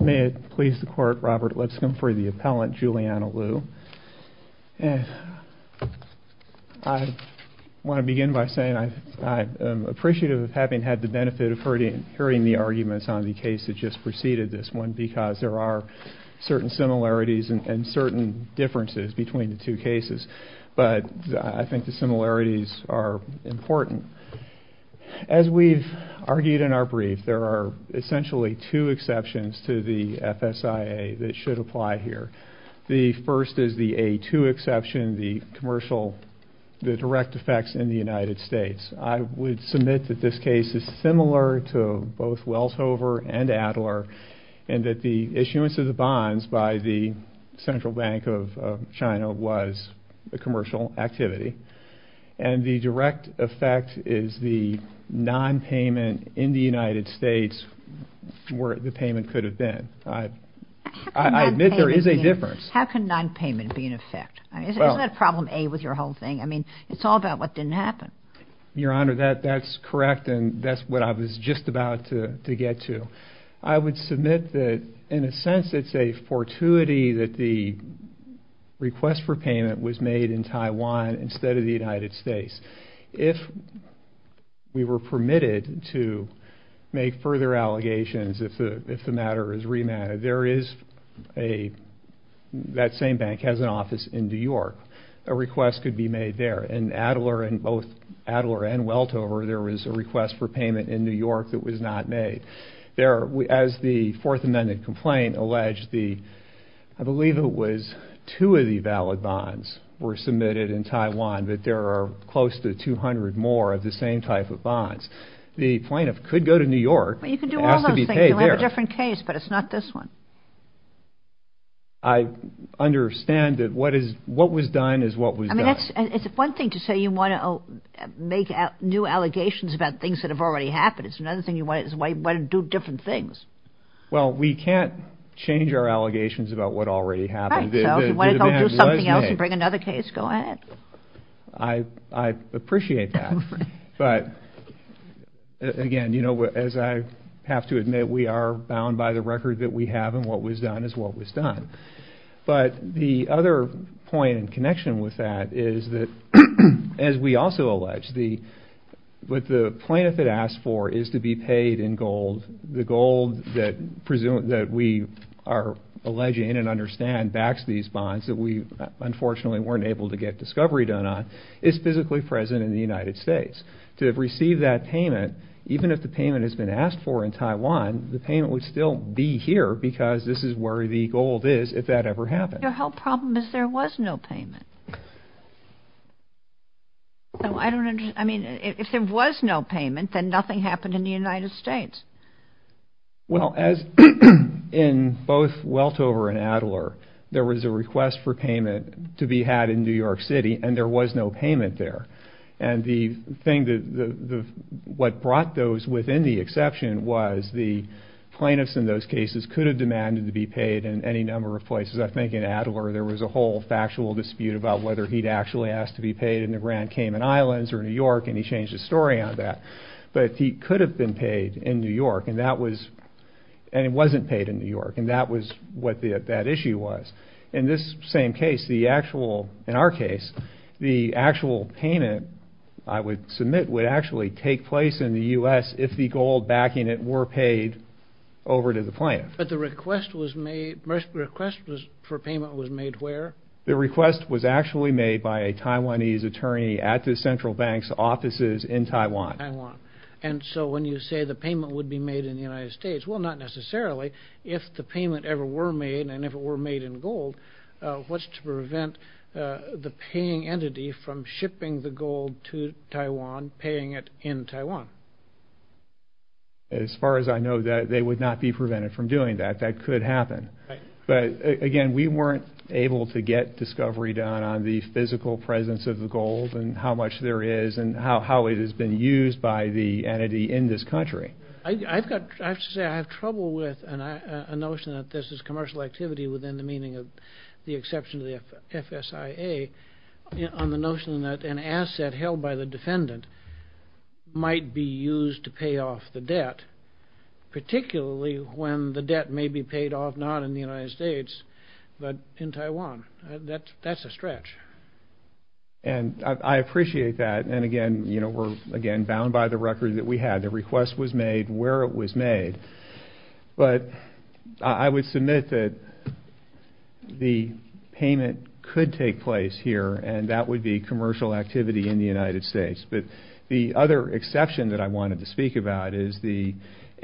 May it please the Court, Robert Lipscomb for the appellant, Juliana Lu. I want to begin by saying I'm appreciative of having had the benefit of hearing the arguments on the case that just preceded this one because there are certain similarities and certain differences between the two cases, but I think the similarities are important. As we've argued in our brief, there are essentially two exceptions to the FSIA that should apply here. The first is the A2 exception, the commercial, the direct effects in the United States. I would submit that this case is similar to both Welshover and Adler and that the issuance of the bonds by the Central Bank of China was a commercial activity. And the direct effect is the non-payment in the United States where the payment could have been. I admit there is a difference. How can non-payment be in effect? Isn't that problem A with your whole thing? I mean, it's all about what didn't happen. Your Honor, that's correct and that's what I was just about to get to. I would submit that in a sense it's a fortuity that the request for payment was made in Taiwan instead of the United States. If we were permitted to make further allegations, if the matter is remanded, there is a, that same bank has an office in New York. A request could be made there. In Adler and both Adler and Welshover, there was a request for payment in New York that was not made. As the Fourth Amendment complaint alleged, I believe it was two of the valid bonds were submitted in Taiwan, but there are close to 200 more of the same type of bonds. The plaintiff could go to New York and ask to be paid there. You can do all those things. You'll have a different case, but it's not this one. I understand that what was done is what was done. I mean, it's one thing to say you want to make new allegations about things that have already happened. It's another thing you want to do different things. Well, we can't change our allegations about what already happened. I appreciate that. But again, you know, as I have to admit, we are bound by the record that we have, and what was done is what was done. But the other point in connection with that is that, as we also allege, what the plaintiff had asked for is to be paid in gold. The gold that we are alleging and understand backs these bonds that we unfortunately weren't able to get discovery done on is physically present in the United States. To have received that payment, even if the payment has been asked for in Taiwan, the payment would still be here because this is where the gold is if that ever happened. Your whole problem is there was no payment. I mean, if there was no payment, then nothing happened in the United States. Well, as in both Weltover and Adler, there was a request for payment to be had in New York City, and there was no payment there. And the thing that what brought those within the exception was the plaintiffs in those cases could have demanded to be paid in any number of places. I think in Adler there was a whole factual dispute about whether he'd actually asked to be paid in the Grand Cayman Islands or New York, and he changed his story on that. But he could have been paid in New York, and it wasn't paid in New York, and that was what that issue was. In this same case, in our case, the actual payment, I would submit, would actually take place in the U.S. if the gold backing it were paid over to the plaintiff. But the request for payment was made where? The request was actually made by a Taiwanese attorney at the central bank's offices in Taiwan. And so when you say the payment would be made in the United States, well, not necessarily. If the payment ever were made, and if it were made in gold, what's to prevent the paying entity from shipping the gold to Taiwan, paying it in Taiwan? As far as I know, they would not be prevented from doing that. That could happen. But again, we weren't able to get discovery done on the physical presence of the gold and how much there is and how it has been used by the entity in this country. I have to say, I have trouble with a notion that this is commercial activity within the meaning of the exception to the FSIA on the notion that an asset held by the defendant might be used to pay off the debt, particularly when the debt may be paid off not in the United States, but in Taiwan. That's a stretch. And I appreciate that. And again, we're, again, bound by the record that we had. The request was made where it was made. But I would submit that the payment could take place here, and that would be commercial activity in the United States. But the other exception that I wanted to speak about is the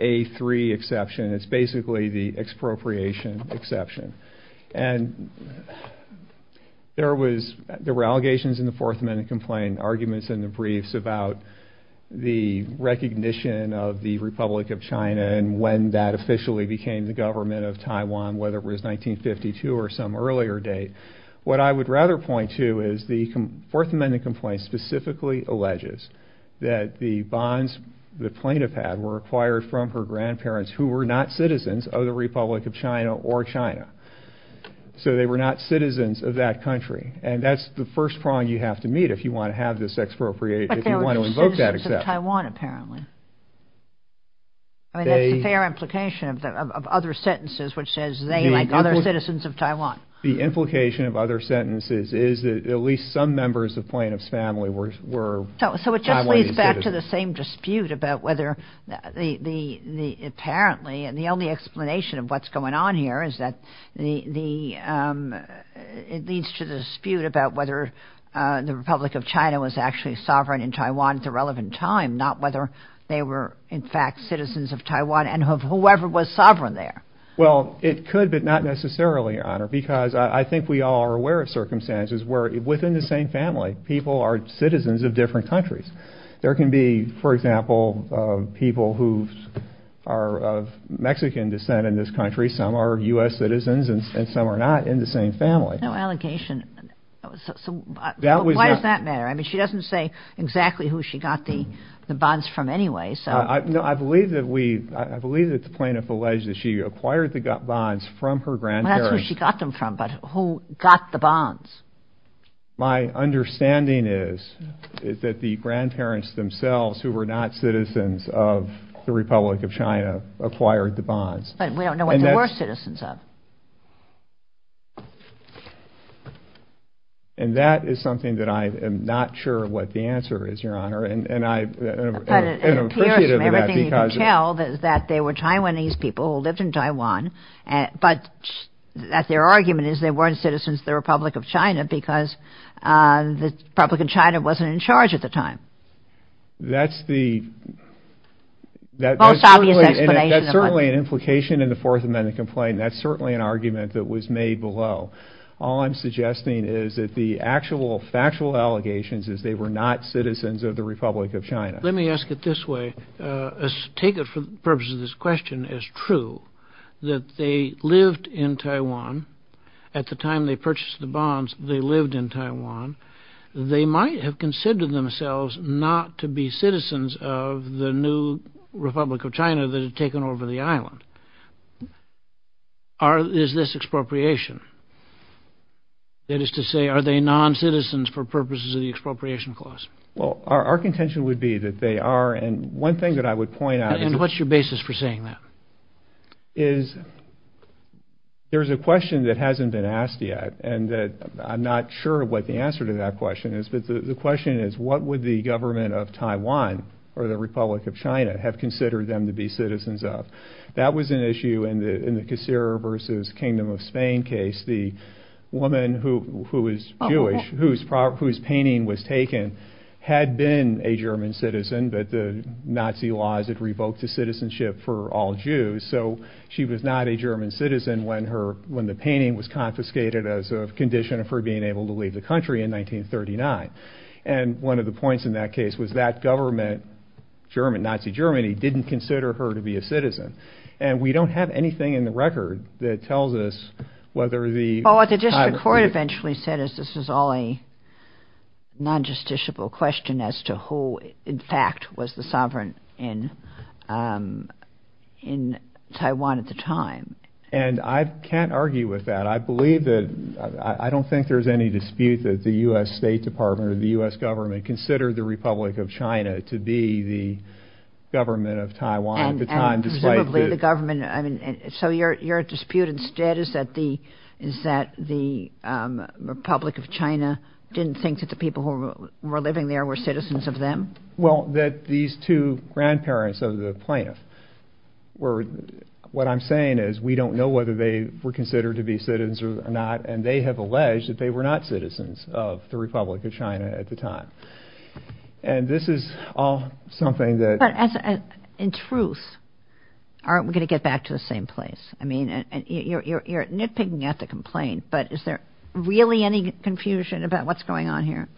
A3 exception. It's basically the expropriation exception. And there was, there were allegations in the Fourth Amendment Complaint, arguments in the briefs about the recognition of the Republic of China and when that officially became the government of Taiwan, whether it was 1952 or some earlier date. What I would rather point to is the Fourth Amendment Complaint specifically alleges that the bonds the plaintiff had were acquired from her grandparents, who were not citizens of the Republic of China or China. So they were not citizens of that country. And that's the first prong you have to meet if you want to have this expropriation, if you want to invoke that exception. But they were citizens of Taiwan, apparently. I mean, that's the fair implication of other sentences which says they, like other citizens of Taiwan. The implication of other sentences is that at least some members of the plaintiff's family were Taiwanese citizens. So it just leads back to the same dispute about whether the, the, the, apparently, and the only explanation of what's going on here is that the, the, it leads to the dispute about whether the Republic of China was actually sovereign in Taiwan at the relevant time, not whether they were in fact citizens of Taiwan and of whoever was sovereign there. Well it could, but not necessarily, Your Honor, because I think we all are aware of circumstances where within the same family, people are citizens of different countries. There can be, for example, people who are of Mexican descent in this country. Some are U.S. citizens and some are not in the same family. No allegation. So why does that matter? I mean, she doesn't say exactly who she got the, the bonds from anyway, so. No, I believe that we, I believe that the plaintiff alleged that she acquired the bonds from her grandparents. That's who she got them from, but who got the bonds? My understanding is, is that the grandparents themselves who were not citizens of the Republic of China acquired the bonds. But we don't know what they were citizens of. And that is something that I am not sure what the answer is, Your Honor, and, and I am appreciative of that because. What I can tell is that they were Taiwanese people who lived in Taiwan, but that their argument is they weren't citizens of the Republic of China because the Republic of China wasn't in charge at the time. That's the, that's certainly an implication in the Fourth Amendment complaint. That's certainly an argument that was made below. All I'm suggesting is that the actual factual allegations is they were not citizens of the Republic of China. Let me ask it this way. Take it for the purpose of this question as true, that they lived in Taiwan. At the time they purchased the bonds, they lived in Taiwan. They might have considered themselves not to be citizens of the new Republic of China that had taken over the island. Are, is this expropriation? That is to say, are they non-citizens for purposes of the expropriation clause? Well, our, our contention would be that they are. And one thing that I would point out And what's your basis for saying that? Is there's a question that hasn't been asked yet and that I'm not sure what the answer to that question is, but the question is, what would the government of Taiwan or the Republic of China have considered them to be citizens of? That was an issue in the, in the Cacera versus Kingdom of Spain case, the woman who, who is Jewish, whose, whose painting was taken had been a German citizen, but the Nazi laws had revoked the citizenship for all Jews. So she was not a German citizen when her, when the painting was confiscated as a condition of her being able to leave the country in 1939. And one of the points in that case was that government, German, Nazi Germany, didn't consider her to be a citizen. And we don't have anything in the record that tells us whether the district court eventually said, as this is all a non-justiciable question as to who in fact was the sovereign in in Taiwan at the time. And I can't argue with that. I believe that I don't think there's any dispute that the U.S. State Department or the U.S. government consider the Republic of China to be the government of Taiwan at the time. The government, I mean, so your, your dispute instead is that the, is that the Republic of China didn't think that the people who were living there were citizens of them? Well, that these two grandparents of the plaintiff were, what I'm saying is we don't know whether they were considered to be citizens or not. And they have alleged that they were not citizens of the Republic of China at the time. And this is all something that. But in truth, aren't we going to get back to the same place? I mean, you're nitpicking at the complaint, but is there really any confusion about what's going on here?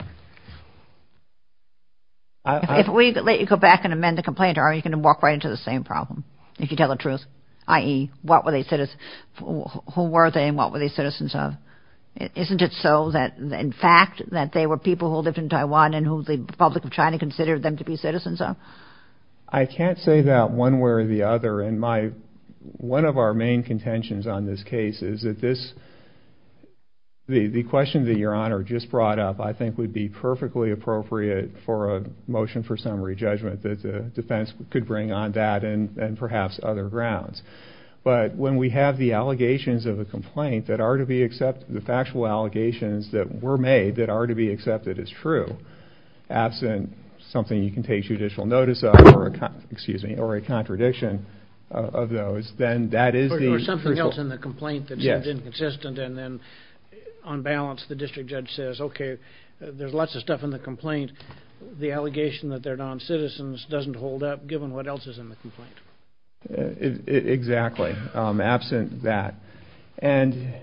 If we let you go back and amend the complaint, are you going to walk right into the same problem if you tell the truth, i.e. what were they citizens, who were they and what were they citizens of? Isn't it so that in fact that they were people who lived in Taiwan and who the Republic of China was? I can't say that one way or the other. And my, one of our main contentions on this case is that this, the question that your honor just brought up, I think would be perfectly appropriate for a motion for summary judgment that the defense could bring on that and perhaps other grounds. But when we have the allegations of a complaint that are to be accepted, the factual allegations that were made that are to be accepted as true, absent something you can pay judicial notice of or a, excuse me, or a contradiction of those, then that is the crucial... Or something else in the complaint that seems inconsistent and then on balance, the district judge says, okay, there's lots of stuff in the complaint. The allegation that they're non-citizens doesn't hold up given what else is in the complaint. Exactly. Absent that. And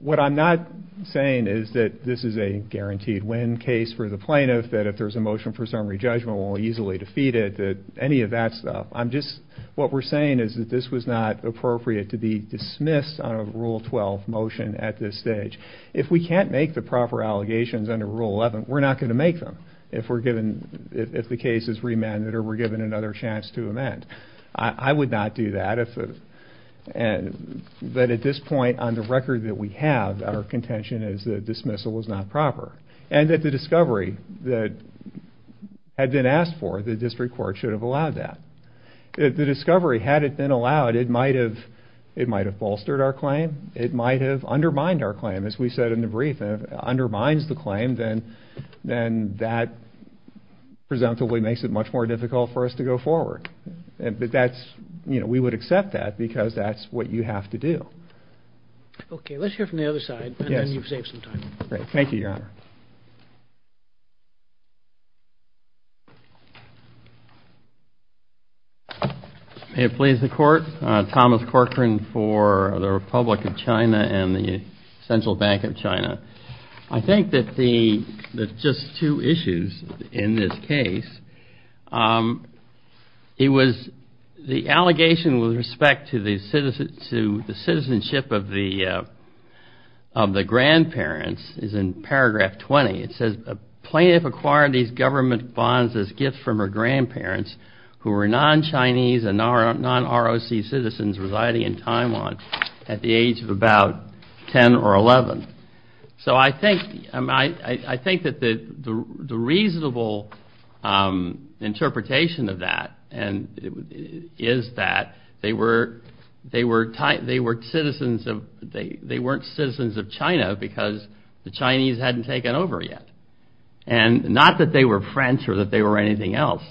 what I'm not saying is that this is a guaranteed win case for the plaintiff, that there's a motion for summary judgment will easily defeat it, that any of that stuff. I'm just, what we're saying is that this was not appropriate to be dismissed on a rule 12 motion at this stage. If we can't make the proper allegations under rule 11, we're not going to make them if we're given, if the case is remanded or we're given another chance to amend. I would not do that if, but at this point on the record that we have, our contention is that dismissal was not proper. And that the discovery that had been asked for, the district court should have allowed that. If the discovery had it been allowed, it might have, it might have bolstered our claim. It might have undermined our claim, as we said in the brief, undermines the claim. Then, then that presumptively makes it much more difficult for us to go forward. And, but that's, you know, we would accept that because that's what you have to do. Okay. Let's hear from the other side and then you've saved some time. Great. Thank you, Your Honor. May it please the court. Thomas Corcoran for the Republic of China and the Central Bank of China. I think that the, just two issues in this case, it was the allegation with respect to the citizenship of the, of the grandparents is in paragraph 20. It says plaintiff acquired these government bonds as gifts from her grandparents who were non-Chinese and non-ROC citizens residing in Taiwan at the age of about 10 or 11. So I think, I think that the, the reasonable interpretation of that is that they were, they were citizens of, they, they weren't citizens of China because the Chinese hadn't taken over yet and not that they were French or that they were anything else.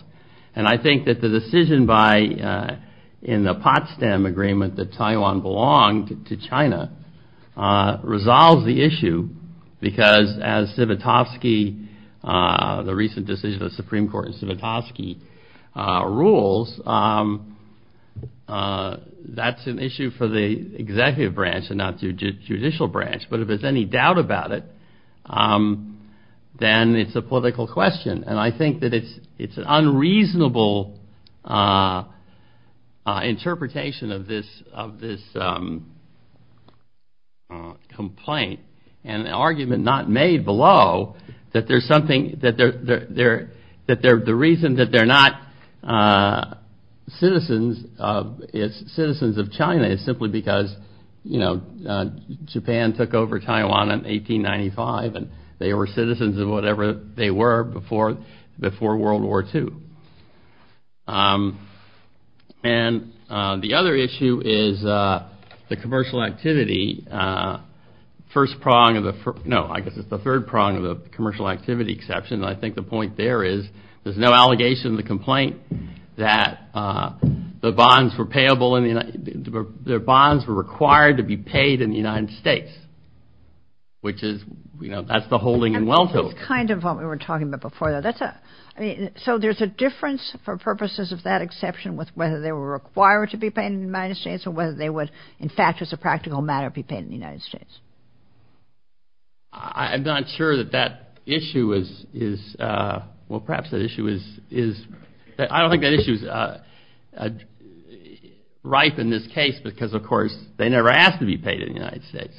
And I think that the decision by, in the Potsdam agreement that Taiwan belonged to China, resolves the issue because as Zivotofsky, the recent decision of the Supreme Court in Zivotofsky rules, that's an issue for the executive branch and not the judicial branch, but if there's any doubt about it, then it's a political question. And I think that it's, it's an unreasonable interpretation of this, of this complaint and the argument not made below that there's something that they're, they're, they're, that they're, the reason that they're not citizens of, is citizens of China is simply because, you know, Japan took over Taiwan in 1895 and they were citizens of whatever they were before, before World War II. And the other issue is the commercial activity, first prong of the, no, I guess it's the third prong of the commercial activity exception. And I think the point there is there's no allegation in the complaint that the bonds were payable in the, their bonds were required to be paid in the United States, which is, you know, that's the holding in welfare. It's kind of what we were talking about before though, that's a, I mean, so there's a, there's a difference for purposes of that exception with whether they were required to be paid in the United States or whether they would, in fact, as a practical matter, be paid in the United States. I'm not sure that that issue is, is well, perhaps that issue is, is, I don't think that issue is ripe in this case because of course they never asked to be paid in the United States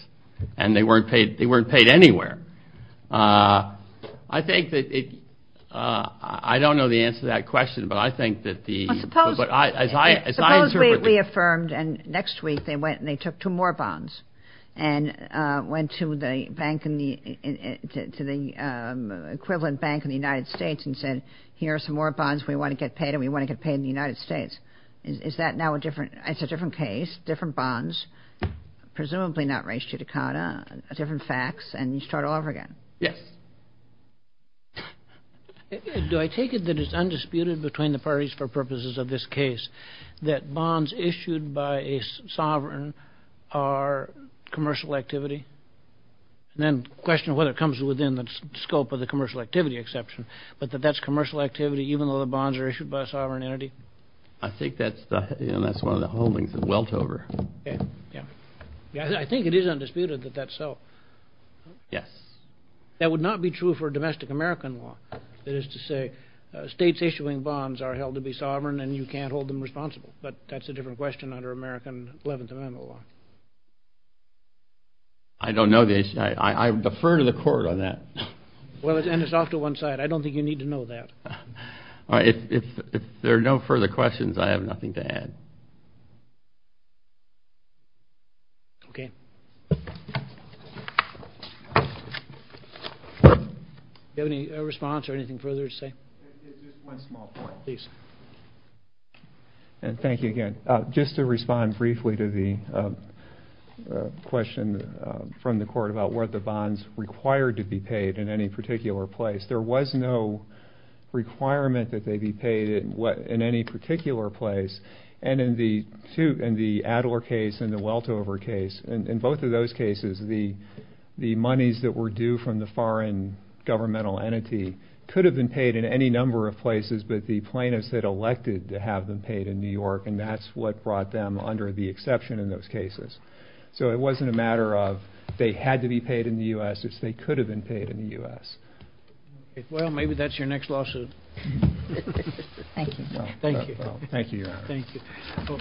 and they weren't paid, they weren't paid anywhere. I think that it, I don't know the answer to that question, but I think that the, but I, as I, as I interpret it Suppose we affirmed and next week they went and they took two more bonds and went to the bank in the, to the equivalent bank in the United States and said, here are some more bonds we want to get paid and we want to get paid in the United States. Is that now a different, it's a different case, different bonds, presumably not ratio decata, different facts, and you start all over again. Yes. Do I take it that it's undisputed between the parties for purposes of this case that bonds issued by a sovereign are commercial activity? And then question whether it comes within the scope of the commercial activity exception, but that that's commercial activity, even though the bonds are issued by a sovereign entity? I think that's the, you know, that's one of the holdings of Weltover. Yeah. I think it is undisputed that that's so. Yes. That would not be true for domestic American law. That is to say, uh, states issuing bonds are held to be sovereign and you can't hold them responsible, but that's a different question under American 11th amendment law. I don't know the issue. I, I defer to the court on that. Well, it's, and it's off to one side. I don't think you need to know that. All right. If, if, if there are no further questions, I have nothing to add. Okay. Do you have any response or anything further to say? And thank you again, uh, just to respond briefly to the, uh, uh, question, uh, from the court about what the bonds required to be paid in any particular place. There was no requirement that they be paid in what, in any particular place. And in the two, in the Adler case and the Weltover case, and in both of those cases, the, the monies that were due from the foreign governmental entity could have been paid in any number of places, but the plaintiffs that elected to have them paid in New York, and that's what brought them under the exception in those cases. So it wasn't a matter of, they had to be paid in the U S it's, they could have been paid in the U S. Well, maybe that's your next lawsuit. Thank you. Thank you. Thank you. Thank you. Oh,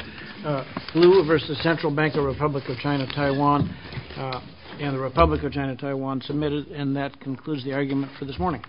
uh, blue versus central bank of Republic of China, Taiwan, uh, and the Republic of China, Taiwan submitted. And that concludes the argument for this morning.